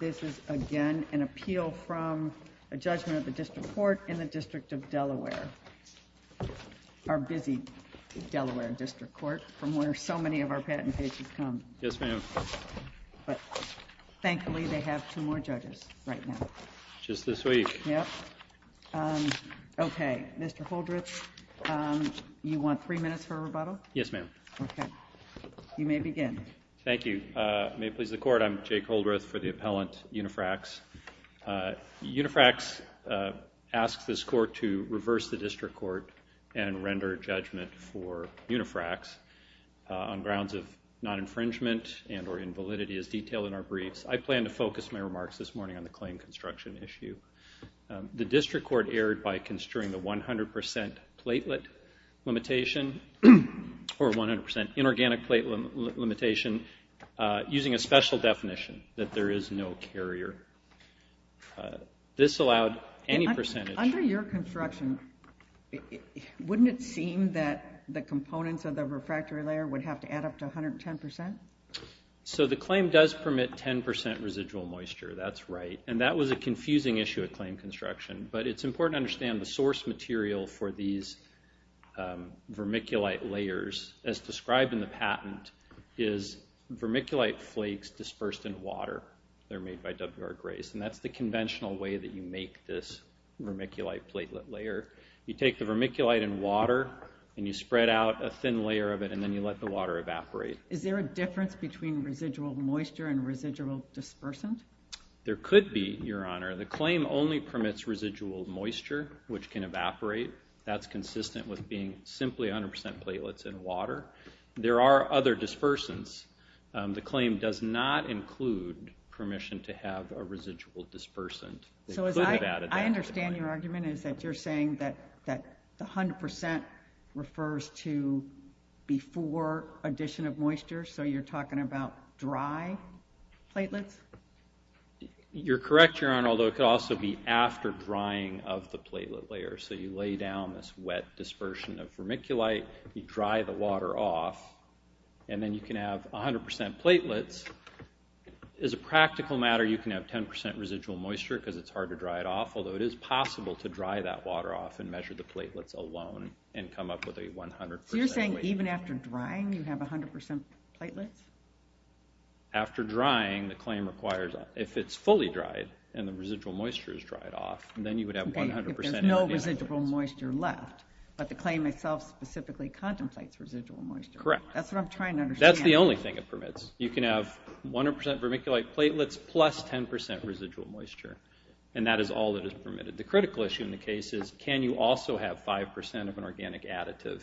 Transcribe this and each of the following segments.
This is, again, an appeal from a judgment of the District Court in the District of Delaware, our busy Delaware District Court, from where so many of our patent cases come. Yes, ma'am. But thankfully, they have two more judges right now. Just this week. Yes. Okay. Mr. Holdreth, you want three minutes for a rebuttal? Yes, ma'am. Okay. You may begin. Thank you. May it please the Court, I'm Jake Holdreth for the appellant, Unifrax. Unifrax asks this Court to reverse the District Court and render judgment for Unifrax on grounds of non-infringement and or invalidity, as detailed in our briefs. I plan to focus my remarks this morning on the claim construction issue. The District Court erred by construing the 100% inorganic platelet limitation using a special definition, that there is no carrier. This allowed any percentage- Under your construction, wouldn't it seem that the components of the refractory layer would have to add up to 110%? So the claim does permit 10% residual moisture. That's right. And that was a confusing issue at claim construction. But it's important to understand the source material for these vermiculite layers, as described in the patent, is vermiculite flakes dispersed in water. They're made by W.R. Grace. And that's the conventional way that you make this vermiculite platelet layer. You take the vermiculite in water, and you spread out a thin layer of it, and then you let the water evaporate. Is there a difference between residual moisture and residual dispersant? There could be, Your Honor. The claim only permits residual moisture, which can evaporate. That's consistent with being simply 100% platelets in water. There are other dispersants. The claim does not include permission to have a residual dispersant. So as I- It could have added that. moisture, so you're talking about dry platelets? You're correct, Your Honor. Although it could also be after drying of the platelet layer. So you lay down this wet dispersion of vermiculite. You dry the water off. And then you can have 100% platelets. As a practical matter, you can have 10% residual moisture, because it's hard to dry it off. Although it is possible to dry that water off and measure the platelets alone and come up with a 100%- So you're saying even after drying, you have 100% platelets? After drying, the claim requires, if it's fully dried and the residual moisture is dried off, then you would have 100%- Okay, if there's no residual moisture left, but the claim itself specifically contemplates residual moisture. Correct. That's what I'm trying to understand. That's the only thing it permits. You can have 100% vermiculite platelets plus 10% residual moisture. And that is all that is permitted. The critical issue in the case is, can you also have 5% of an organic additive?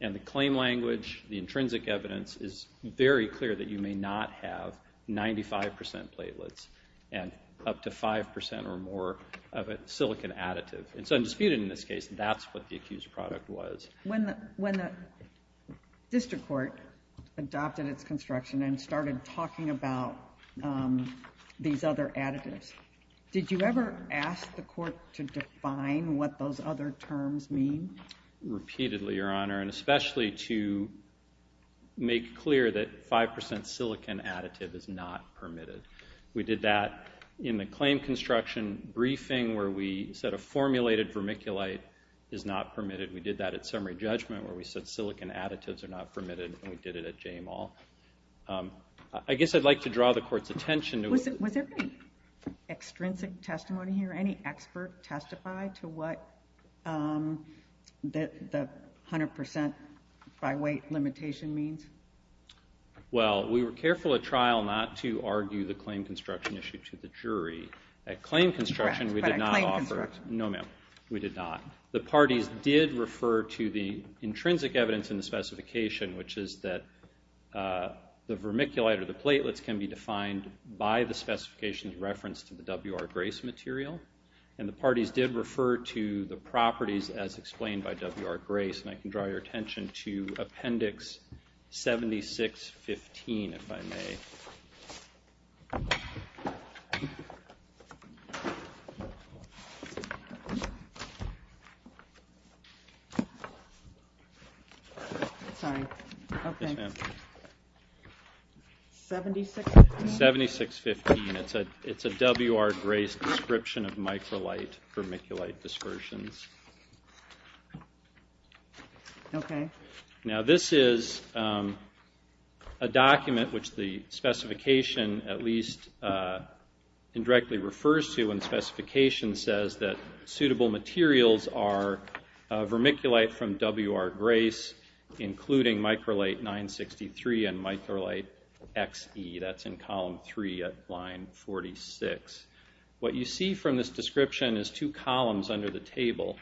And the claim language, the intrinsic evidence, is very clear that you may not have 95% platelets and up to 5% or more of a silicon additive. And so I'm disputing in this case, that's what the accused product was. When the district court adopted its construction and started talking about these other additives, did you ever ask the court to define what those other terms mean? Repeatedly, Your Honor, and especially to make clear that 5% silicon additive is not permitted. We did that in the claim construction briefing where we said a formulated vermiculite is not permitted. We did that at summary judgment where we said silicon additives are not permitted, and we did it at J-Mall. I guess I'd like to draw the court's attention to- Was there any extrinsic testimony here? Any expert testify to what the 100% by weight limitation means? Well, we were careful at trial not to argue the claim construction issue to the jury. At claim construction, we did not offer- Correct, but at claim construction- No, ma'am. We did not. The parties did refer to the intrinsic evidence in the specification, which is that the vermiculite or the platelets can be defined by the specifications referenced in the WR-Grace material, and the parties did refer to the properties as explained by WR-Grace, and I can draw your attention to Appendix 7615, if I may. Sorry. Yes, ma'am. 7615? 7615. It's a WR-Grace description of microlite vermiculite dispersions. Okay. Now, this is a document which the specification, at least, indirectly refers to when specification says that suitable materials are vermiculite from WR-Grace, including microlite 963 and 963XE. That's in column three at line 46. What you see from this description is two columns under the table.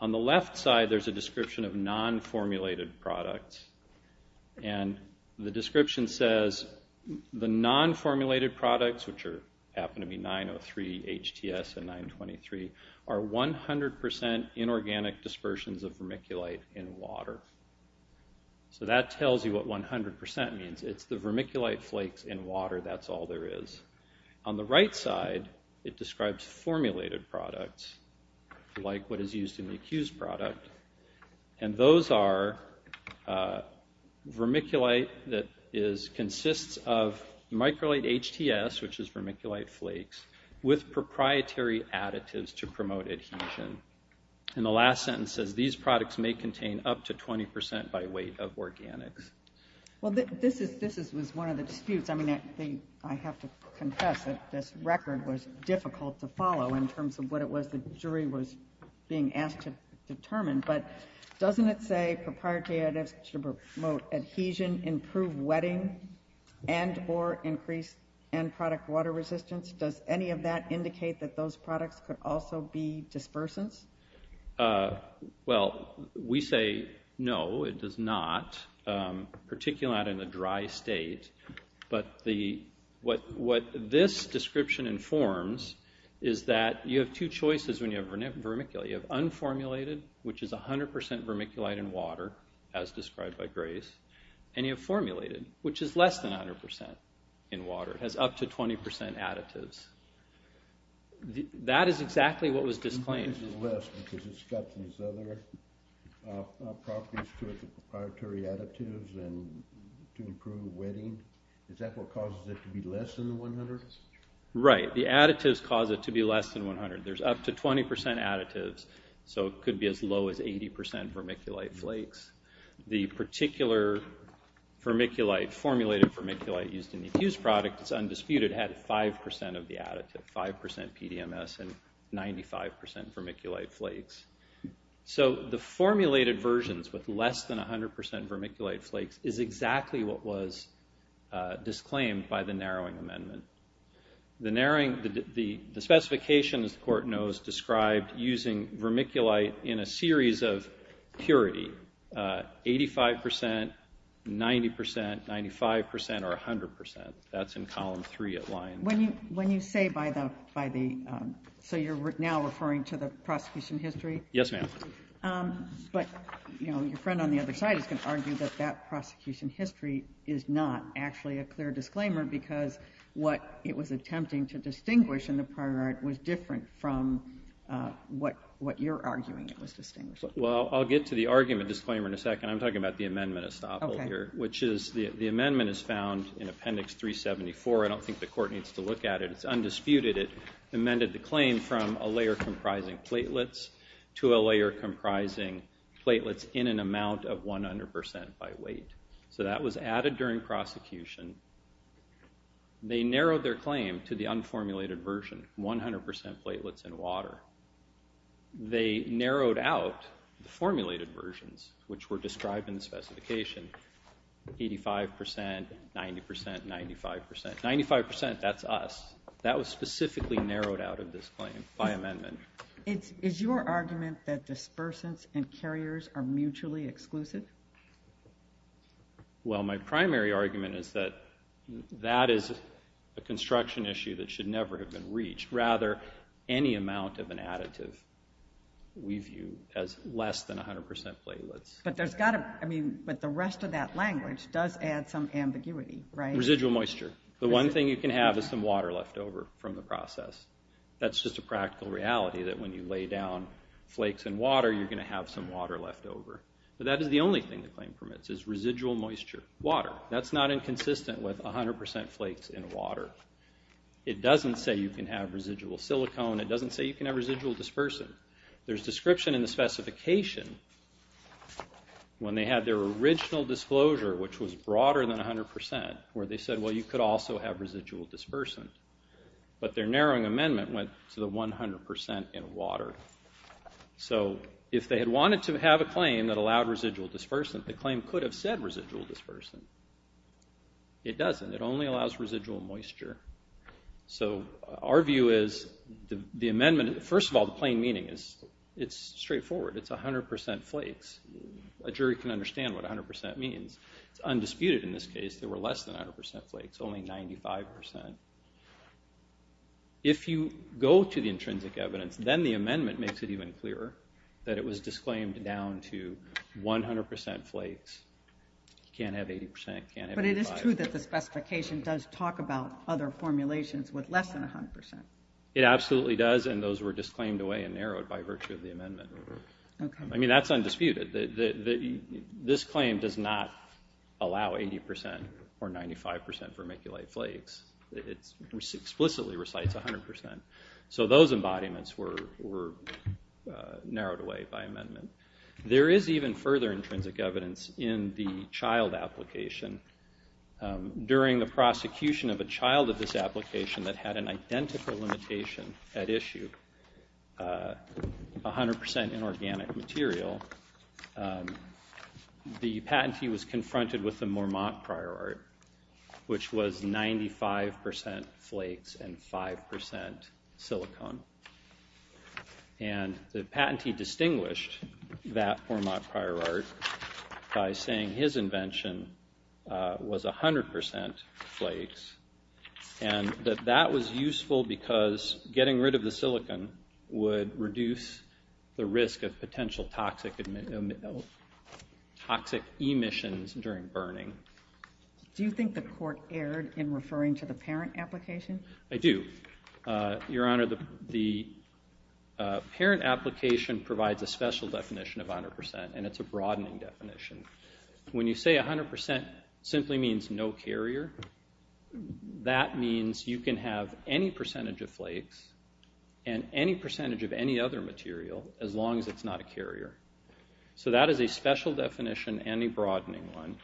On the left side, there's a description of non-formulated products, and the description says the non-formulated products, which happen to be 903HTS and 923, are 100% inorganic dispersions of vermiculite in water. So that tells you what 100% means. It's the vermiculite flakes in water. That's all there is. On the right side, it describes formulated products, like what is used in the accused product, and those are vermiculite that consists of microlite HTS, which is vermiculite flakes, with proprietary additives to promote adhesion. And the last sentence says these products may contain up to 20% by weight of organics. Well, this was one of the disputes. I mean, I have to confess that this record was difficult to follow in terms of what it was the jury was being asked to determine, but doesn't it say proprietary additives to promote adhesion, improve wetting, and or increase end product water resistance? Does any of that indicate that those products could also be dispersants? Well, we say no, it does not. Particularly not in a dry state, but what this description informs is that you have two choices when you have vermiculite. You have unformulated, which is 100% vermiculite in water, as described by Grace, and you have formulated, which is less than 100% in water. It has up to 20% additives. That is exactly what was disclaimed. Why is it less, because it's got these other properties to it, the proprietary additives, and to improve wetting? Is that what causes it to be less than 100? Right. The additives cause it to be less than 100. There's up to 20% additives, so it could be as low as 80% vermiculite flakes. The particular vermiculite, formulated vermiculite, used in the fused product, it's undisputed, it had 5% of the additive, 5% PDMS and 95% vermiculite flakes. So, the formulated versions with less than 100% vermiculite flakes is exactly what was disclaimed by the narrowing amendment. The specifications, the court knows, described using vermiculite in a series of purity, 85%, 90%, 95%, or 100%. That's in column 3 at Lyons. When you say by the, so you're now referring to the prosecution history? Yes, ma'am. But, you know, your friend on the other side is going to argue that that prosecution history is not actually a clear disclaimer, because what it was attempting to distinguish in the prior art was different from what you're arguing it was distinguishing. Well, I'll get to the argument disclaimer in a second. I'm talking about the amendment estoppel here, which is, the amendment is found in appendix 374. I don't think the court needs to look at it. It's undisputed. It amended the claim from a layer comprising platelets to a layer comprising platelets in an amount of 100% by weight. So, that was added during prosecution. They narrowed their claim to the unformulated version, 100% platelets in water. They narrowed out the formulated versions, which were described in the specification, 85%, 90%, 95%. 95%, that's us. That was specifically narrowed out of this claim by amendment. Is your argument that dispersants and carriers are mutually exclusive? Well, my primary argument is that that is a construction issue that should never have reached. Rather, any amount of an additive we view as less than 100% platelets. But there's got to, I mean, but the rest of that language does add some ambiguity, right? Residual moisture. The one thing you can have is some water left over from the process. That's just a practical reality that when you lay down flakes in water, you're going to have some water left over. But that is the only thing the claim permits, is residual moisture, water. That's not inconsistent with 100% flakes in water. It doesn't say you can have residual silicone. It doesn't say you can have residual dispersant. There's description in the specification when they had their original disclosure, which was broader than 100%, where they said, well, you could also have residual dispersant. But their narrowing amendment went to the 100% in water. So if they had wanted to have a claim that allowed residual dispersant, the claim could have said residual dispersant. It doesn't. It only allows residual moisture. So our view is the amendment, first of all, the plain meaning is it's straightforward. It's 100% flakes. A jury can understand what 100% means. It's undisputed in this case. There were less than 100% flakes, only 95%. If you go to the intrinsic evidence, then the amendment makes it even clearer that it was disclaimed down to 100% flakes. You can't have 80%. You can't have 95%. But it is true that the specification does talk about other formulations with less than 100%. It absolutely does. And those were disclaimed away and narrowed by virtue of the amendment. I mean, that's undisputed. This claim does not allow 80% or 95% vermiculite flakes. It explicitly recites 100%. So those embodiments were narrowed away by amendment. There is even further intrinsic evidence in the child application. During the prosecution of a child of this application that had an identical limitation at issue, 100% inorganic material, the patentee was confronted with the Mormont prior art, which was 95% flakes and 5% silicone. And the patentee distinguished that Mormont prior art by saying his invention was 100% flakes and that that was useful because getting rid of the silicone would reduce the risk of potential toxic emissions during burning. Do you think the court erred in referring to the parent application? I do. Your Honor, the parent application provides a special definition of 100%, and it's a broadening definition. When you say 100% simply means no carrier, that means you can have any percentage of flakes and any percentage of any other material as long as it's not a carrier. So that is a special definition and a broadening one.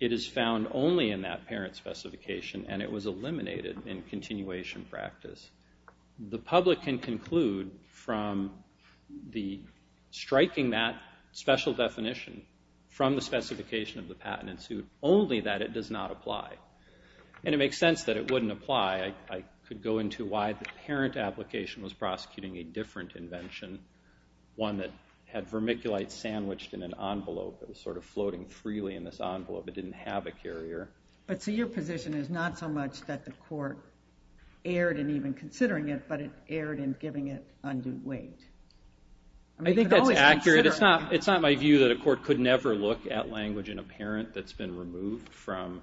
It is found only in that parent specification, and it was eliminated in continuation practice. The public can conclude from striking that special definition from the specification of the patent in suit only that it does not apply. And it makes sense that it wouldn't apply. I could go into why the parent application was prosecuting a different invention, one that had vermiculite sandwiched in an envelope that was sort of floating freely in this envelope. It didn't have a carrier. But so your position is not so much that the court erred in even considering it, but it erred in giving it undue weight. I think that's accurate. It's not my view that a court could never look at language in a parent that's been removed from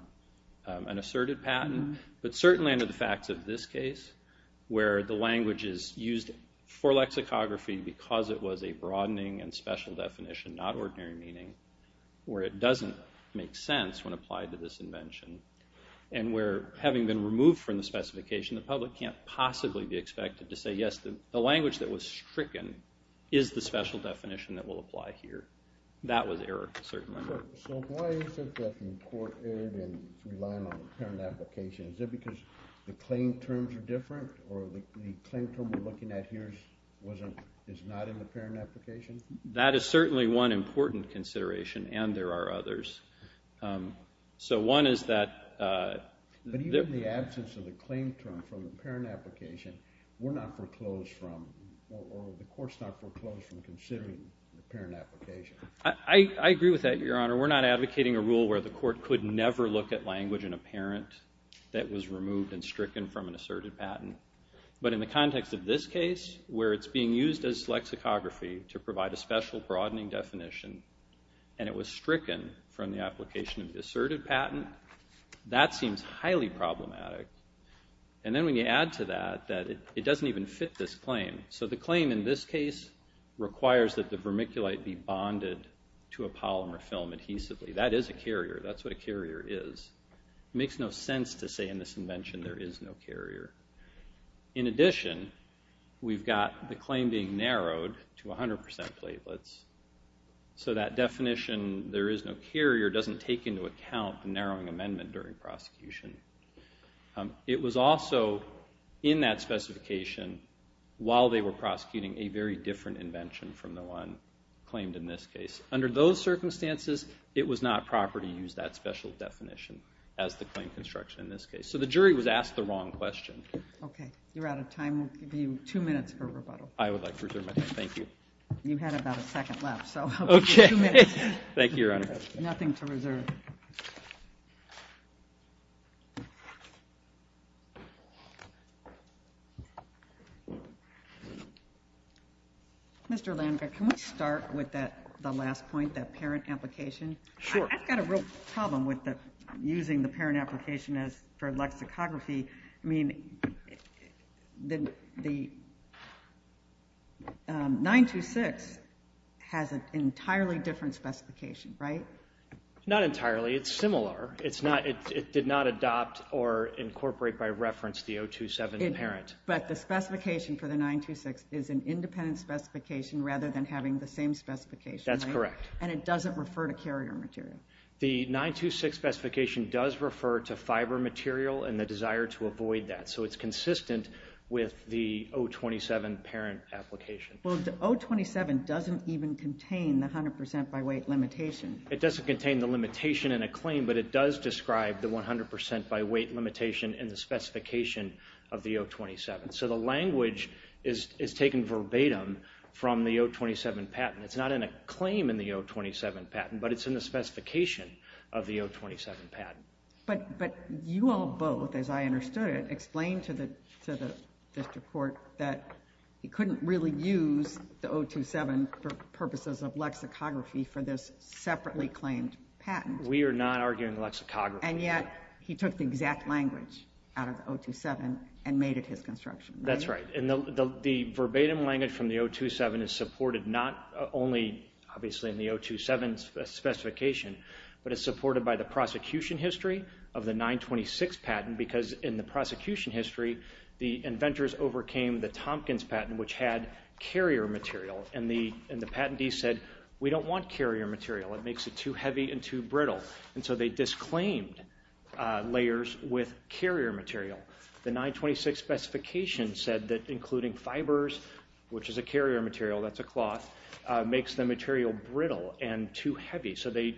an asserted patent. But certainly under the facts of this case, where the language is used for lexicography because it was a broadening and special definition, not ordinary meaning, where it doesn't make sense when applied to this invention, and where having been removed from the specification, the public can't possibly be expected to say, yes, the language that was stricken is the special definition that will apply here. That was error, certainly. So why is it that the court erred in relying on the parent application? Is it because the claim terms are different or the claim term we're looking at here is not in the parent application? That is certainly one important consideration, and there are others. So one is that the absence of the claim term from the parent application, we're not foreclosed from or the court's not foreclosed from considering the parent application. I agree with that, Your Honor. We're not advocating a rule where the court could never look at language in a parent that was removed and stricken from an asserted patent. But in the context of this case, where it's being used as lexicography to provide a special broadening definition, and it was stricken from the application of the asserted patent, that seems highly problematic. And then when you add to that that it doesn't even fit this claim. So the claim in this case requires that the vermiculite be bonded to a polymer film adhesively. That is a carrier. That's what a carrier is. It makes no sense to say in this invention there is no carrier. In addition, we've got the claim being narrowed to 100% platelets. So that definition, there is no carrier, doesn't take into account the narrowing amendment during prosecution. It was also in that specification, while they were prosecuting, a very different invention from the one claimed in this case. Under those circumstances, it was not proper to use that special definition as the claim construction in this case. So the jury was asked the wrong question. Okay. You're out of time. We'll give you two minutes for rebuttal. I would like to reserve my time. Thank you. You had about a second left, so I'll give you two minutes. Thank you, Your Honor. Nothing to reserve. Mr. Landgraf, can we start with the last point, that parent application? Sure. I've got a real problem with using the parent application for lexicography. I mean, the 926 has an entirely different specification, right? Not entirely. It's similar. It did not adopt or incorporate by reference the 027 parent. But the specification for the 926 is an independent specification rather than having the same specification, right? That's correct. And it doesn't refer to carrier material? The 926 specification does refer to fiber material and the desire to avoid that. So it's consistent with the 027 parent application. Well, the 027 doesn't even contain the 100% by weight limitation. It doesn't contain the limitation in a claim, but it does describe the 100% by weight limitation in the specification of the 027. So the language is taken verbatim from the 027 patent. It's not in a claim in the 027 patent, but it's in the specification of the 027 patent. But you all both, as I understood it, explained to the district court that he couldn't really use the 027 for purposes of lexicography for this separately claimed patent. We are not arguing lexicography. And yet he took the exact language out of the 027 and made it his construction, right? That's right. And the verbatim language from the 027 is supported not only, obviously, in the 027 specification, but it's supported by the prosecution history of the 926 patent. Because in the prosecution history, the inventors overcame the Tompkins patent, which had carrier material. And the patentee said, we don't want carrier material. It makes it too heavy and too brittle. And so they disclaimed layers with carrier material. The 926 specification said that including fibers, which is a carrier material, that's a cloth, makes the material brittle and too heavy. So they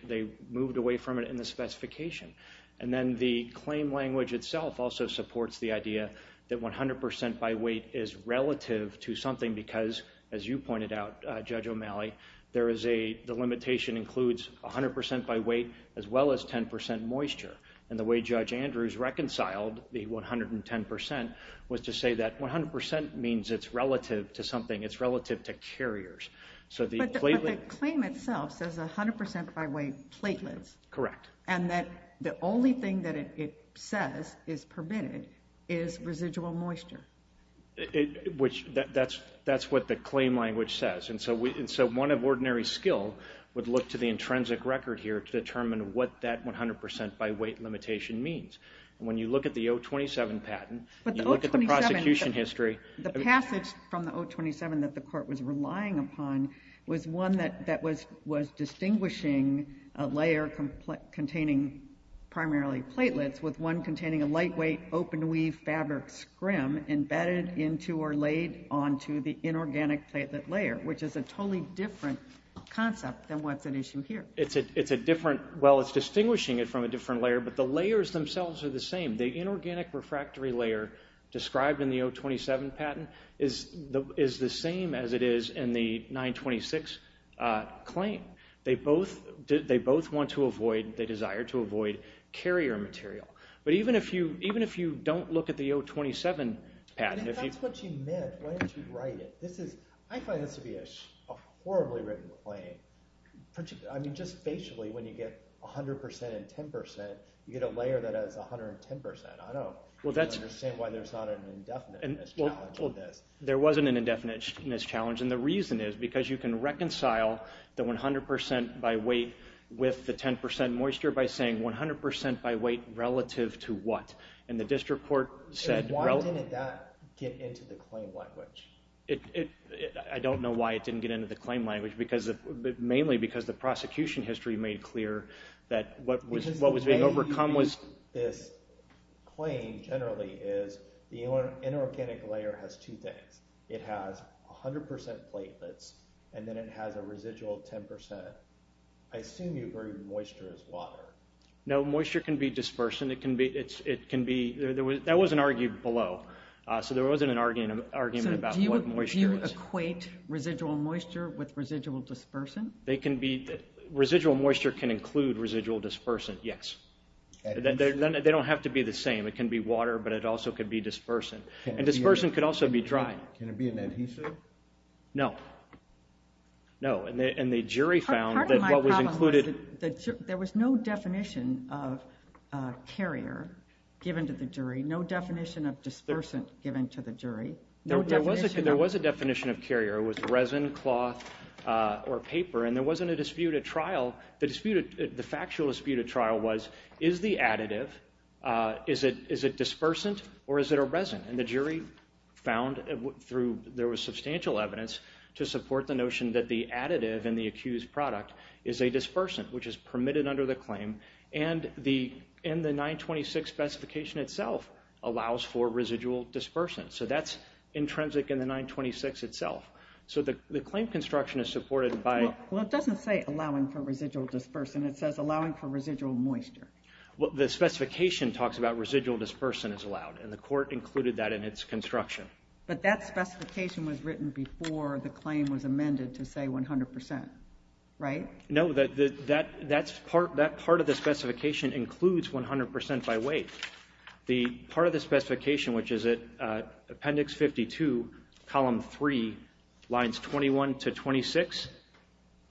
moved away from it in the specification. And then the claim language itself also supports the idea that 100% by weight is relative to something. Because as you pointed out, Judge O'Malley, the limitation includes 100% by weight as well as 10% moisture. And the way Judge Andrews reconciled the 110% was to say that 100% means it's relative to something. It's relative to carriers. But the claim itself says 100% by weight platelets. Correct. And that the only thing that it says is permitted is residual moisture. That's what the claim language says. And so one of ordinary skill would look to the intrinsic record here to determine what that 100% by weight limitation means. When you look at the 027 patent, you look at the prosecution history. The passage from the 027 that the court was relying upon was one that was distinguishing a layer containing primarily platelets with one containing a lightweight open weave fabric scrim embedded into or laid onto the inorganic platelet layer, which is a totally different concept than what's at issue here. It's a different—well, it's distinguishing it from a different layer, but the layers themselves are the same. The inorganic refractory layer described in the 027 patent is the same as it is in the 926 claim. They both want to avoid—they desire to avoid carrier material. But even if you don't look at the 027 patent— If that's what you meant, why didn't you write it? I find this to be a horribly written claim. I mean, just facially, when you get 100% and 10%, you get a layer that has 110%. I don't understand why there's not an indefiniteness challenge in this. There wasn't an indefiniteness challenge, and the reason is because you can reconcile the 100% by weight with the 10% moisture by saying 100% by weight relative to what? And the district court said— Why didn't that get into the claim language? I don't know why it didn't get into the claim language, mainly because the prosecution history made clear that what was being overcome was— It has 100% platelets, and then it has a residual 10%. I assume you bring moisture as water. No, moisture can be dispersant. That wasn't argued below, so there wasn't an argument about what moisture is. Do you equate residual moisture with residual dispersant? Residual moisture can include residual dispersant, yes. They don't have to be the same. It can be water, but it also could be dispersant. And dispersant could also be dry. Can it be an adhesive? No. No, and the jury found that what was included— Part of my problem was that there was no definition of carrier given to the jury, no definition of dispersant given to the jury, no definition of— There was a definition of carrier. It was resin, cloth, or paper, and there wasn't a disputed trial. The factual disputed trial was, is the additive, is it dispersant, or is it a resin? And the jury found there was substantial evidence to support the notion that the additive in the accused product is a dispersant, which is permitted under the claim, and the 926 specification itself allows for residual dispersant. So that's intrinsic in the 926 itself. So the claim construction is supported by— Well, it doesn't say allowing for residual dispersant. It says allowing for residual moisture. Well, the specification talks about residual dispersant is allowed, and the court included that in its construction. But that specification was written before the claim was amended to, say, 100%, right? No, that part of the specification includes 100% by weight. The part of the specification, which is at Appendix 52, Column 3, Lines 21 to 26,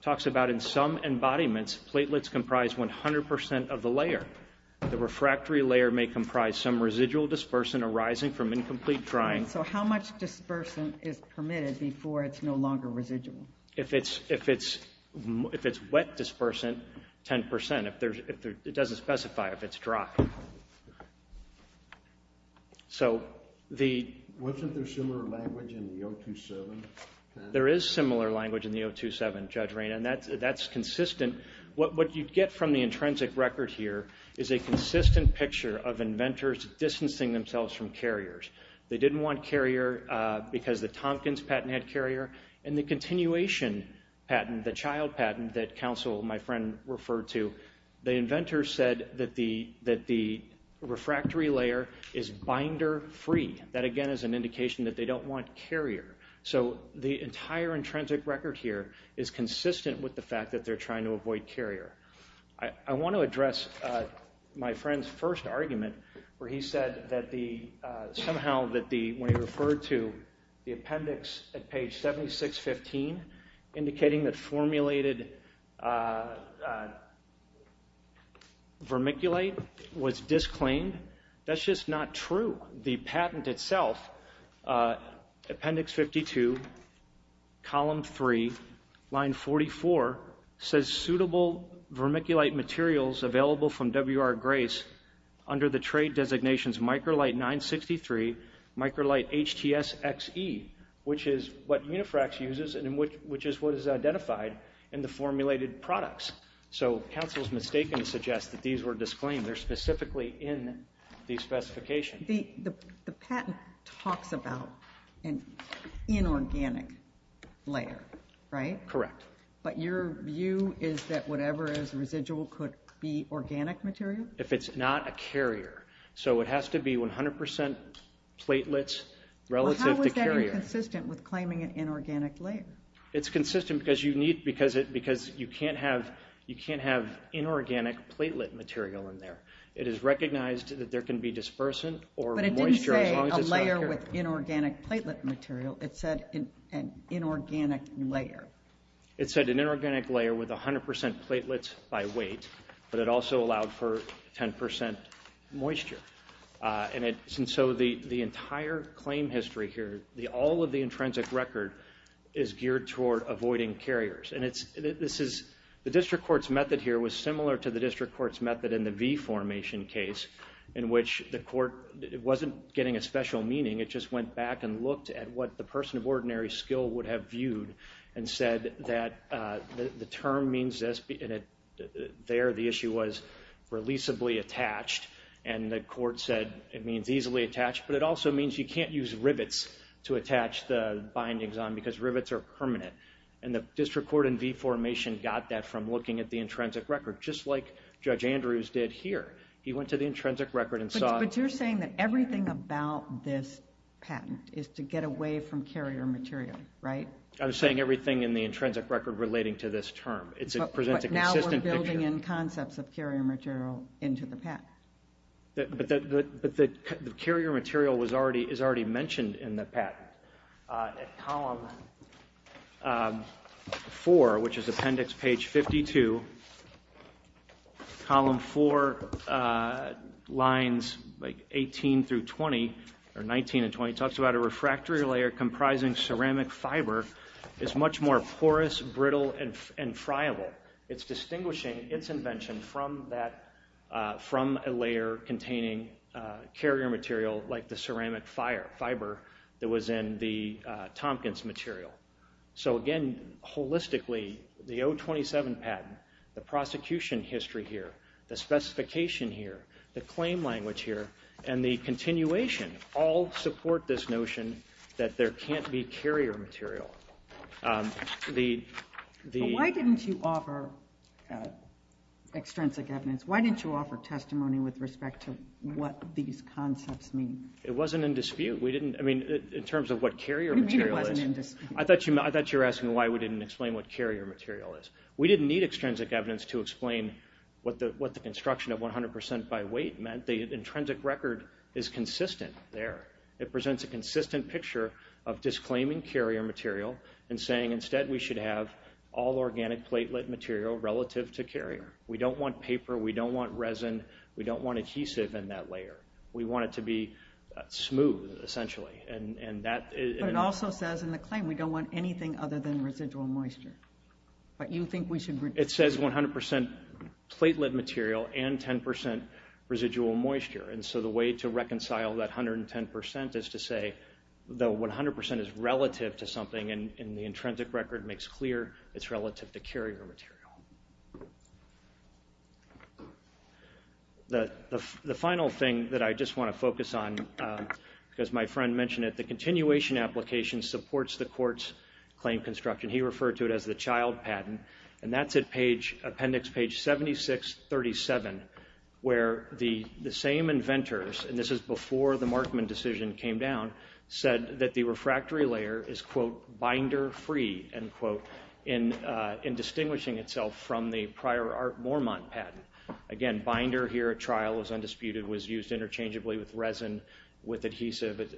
talks about in some embodiments, platelets comprise 100% of the layer. The refractory layer may comprise some residual dispersant arising from incomplete drying. So how much dispersant is permitted before it's no longer residual? If it's wet dispersant, 10%. It doesn't specify if it's dry. Wasn't there similar language in the 027? There is similar language in the 027, Judge Raina, and that's consistent. What you get from the intrinsic record here is a consistent picture of inventors distancing themselves from carriers. They didn't want carrier because the Tompkins patent had carrier, and the continuation patent, the child patent that Counsel, my friend, referred to, the inventor said that the refractory layer is binder-free. That, again, is an indication that they don't want carrier. So the entire intrinsic record here is consistent with the fact that they're trying to avoid carrier. I want to address my friend's first argument where he said that somehow when he referred to the appendix at page 7615 indicating that formulated vermiculite was disclaimed, that's just not true. The patent itself, appendix 52, column 3, line 44, says suitable vermiculite materials available from WR Grace under the trade designations Microlite 963, Microlite HTSXE, which is what Unifrax uses and which is what is identified in the formulated products. So Counsel's mistaken to suggest that these were disclaimed. They're specifically in the specification. The patent talks about an inorganic layer, right? Correct. But your view is that whatever is residual could be organic material? If it's not a carrier. So it has to be 100% platelets relative to carrier. How is that inconsistent with claiming an inorganic layer? It's consistent because you can't have inorganic platelet material in there. It is recognized that there can be dispersant or moisture as long as it's not a carrier. But it didn't say a layer with inorganic platelet material. It said an inorganic layer. It said an inorganic layer with 100% platelets by weight, but it also allowed for 10% moisture. And so the entire claim history here, all of the intrinsic record, is geared toward avoiding carriers. The district court's method here was similar to the district court's method in the V-formation case in which the court wasn't getting a special meaning. It just went back and looked at what the person of ordinary skill would have viewed and said that the term means this, and there the issue was releasably attached. And the court said it means easily attached, but it also means you can't use rivets to attach the bindings on because rivets are permanent. And the district court in V-formation got that from looking at the intrinsic record, just like Judge Andrews did here. He went to the intrinsic record and saw... But you're saying that everything about this patent is to get away from carrier material, right? I'm saying everything in the intrinsic record relating to this term. But now we're building in concepts of carrier material into the patent. But the carrier material is already mentioned in the patent. Column 4, which is appendix page 52, column 4, lines 18 through 20, or 19 and 20, talks about a refractory layer comprising ceramic fiber is much more porous, brittle, and friable. It's distinguishing its invention from a layer containing carrier material like the ceramic fiber that was in the Tompkins material. So again, holistically, the 027 patent, the prosecution history here, the specification here, the claim language here, and the continuation all support this notion that there can't be carrier material. Why didn't you offer extrinsic evidence? Why didn't you offer testimony with respect to what these concepts mean? It wasn't in dispute. I mean, in terms of what carrier material is. You mean it wasn't in dispute. I thought you were asking why we didn't explain what carrier material is. We didn't need extrinsic evidence to explain what the construction of 100% by weight meant. The intrinsic record is consistent there. It presents a consistent picture of disclaiming carrier material and saying instead we should have all organic platelet material relative to carrier. We don't want paper. We don't want resin. We don't want adhesive in that layer. We want it to be smooth, essentially. But it also says in the claim we don't want anything other than residual moisture. You think we should reduce it? It says 100% platelet material and 10% residual moisture. And so the way to reconcile that 110% is to say that 100% is relative to something, and the intrinsic record makes clear it's relative to carrier material. The final thing that I just want to focus on, because my friend mentioned it, the continuation application supports the court's claim construction. He referred to it as the child patent, and that's at appendix page 7637, where the same inventors, and this is before the Markman decision came down, said that the refractory layer is, quote, binder-free, end quote, in distinguishing itself from the prior Art Mormont patent. Again, binder here at trial was undisputed, was used interchangeably with resin, with adhesive.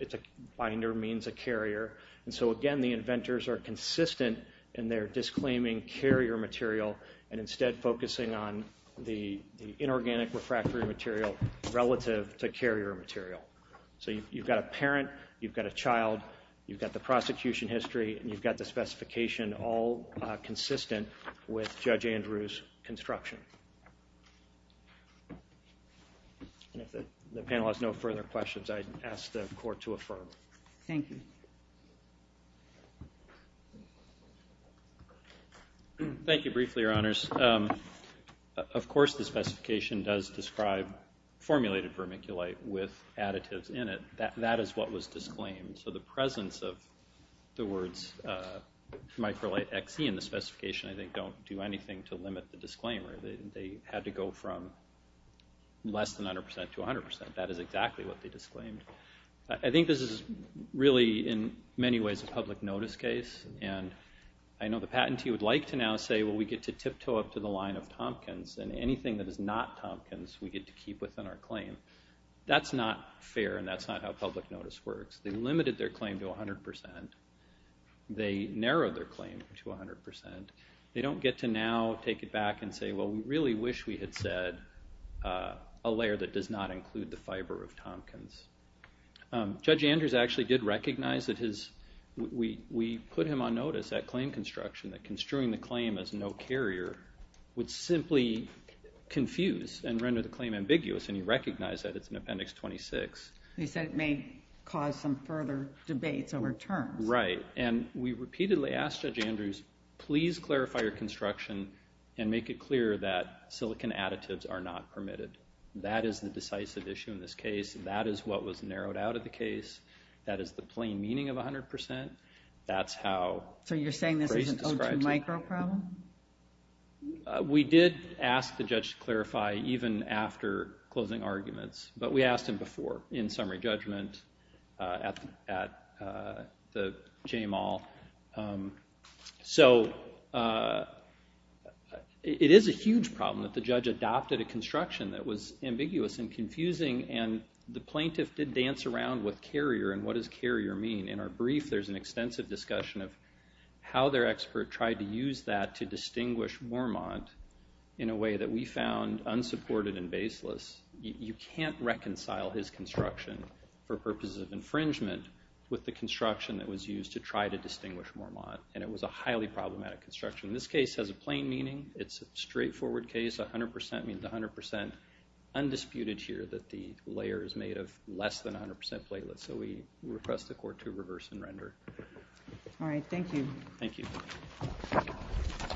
Binder means a carrier. And so, again, the inventors are consistent in their disclaiming carrier material and instead focusing on the inorganic refractory material relative to carrier material. So you've got a parent, you've got a child, you've got the prosecution history, and you've got the specification all consistent with Judge Andrew's construction. And if the panel has no further questions, I'd ask the court to affirm. Thank you. Thank you briefly, Your Honors. Of course the specification does describe formulated vermiculite with additives in it. That is what was disclaimed. So the presence of the words Microlite XE in the specification, I think, don't do anything to limit the disclaimer. They had to go from less than 100% to 100%. That is exactly what they disclaimed. I think this is really, in many ways, a public notice case. And I know the patentee would like to now say, well, we get to tiptoe up to the line of Tompkins, and anything that is not Tompkins we get to keep within our claim. That's not fair, and that's not how public notice works. They limited their claim to 100%. They narrowed their claim to 100%. They don't get to now take it back and say, well, we really wish we had said a layer that does not include the fiber of Tompkins. Judge Andrews actually did recognize that we put him on notice at claim construction that construing the claim as no carrier would simply confuse and render the claim ambiguous, and he recognized that. It's in Appendix 26. He said it may cause some further debates over terms. Right. And we repeatedly asked Judge Andrews, please clarify your construction and make it clear that silicon additives are not permitted. That is the decisive issue in this case. That is what was narrowed out of the case. That is the plain meaning of 100%. That's how Grace describes it. So you're saying this is an O2 micro problem? We did ask the judge to clarify even after closing arguments, but we asked him before in summary judgment at the JMAL. So it is a huge problem that the judge adopted a construction that was ambiguous and confusing, and the plaintiff did dance around with carrier and what does carrier mean. In our brief, there's an extensive discussion of how their expert tried to use that to distinguish Wormont in a way that we found unsupported and baseless. You can't reconcile his construction for purposes of infringement with the construction that was used to try to distinguish Wormont, and it was a highly problematic construction. This case has a plain meaning. It's a straightforward case. 100% means 100%. Undisputed here that the layer is made of less than 100% platelets, so we request the court to reverse and render. All right. Thank you. Thank you.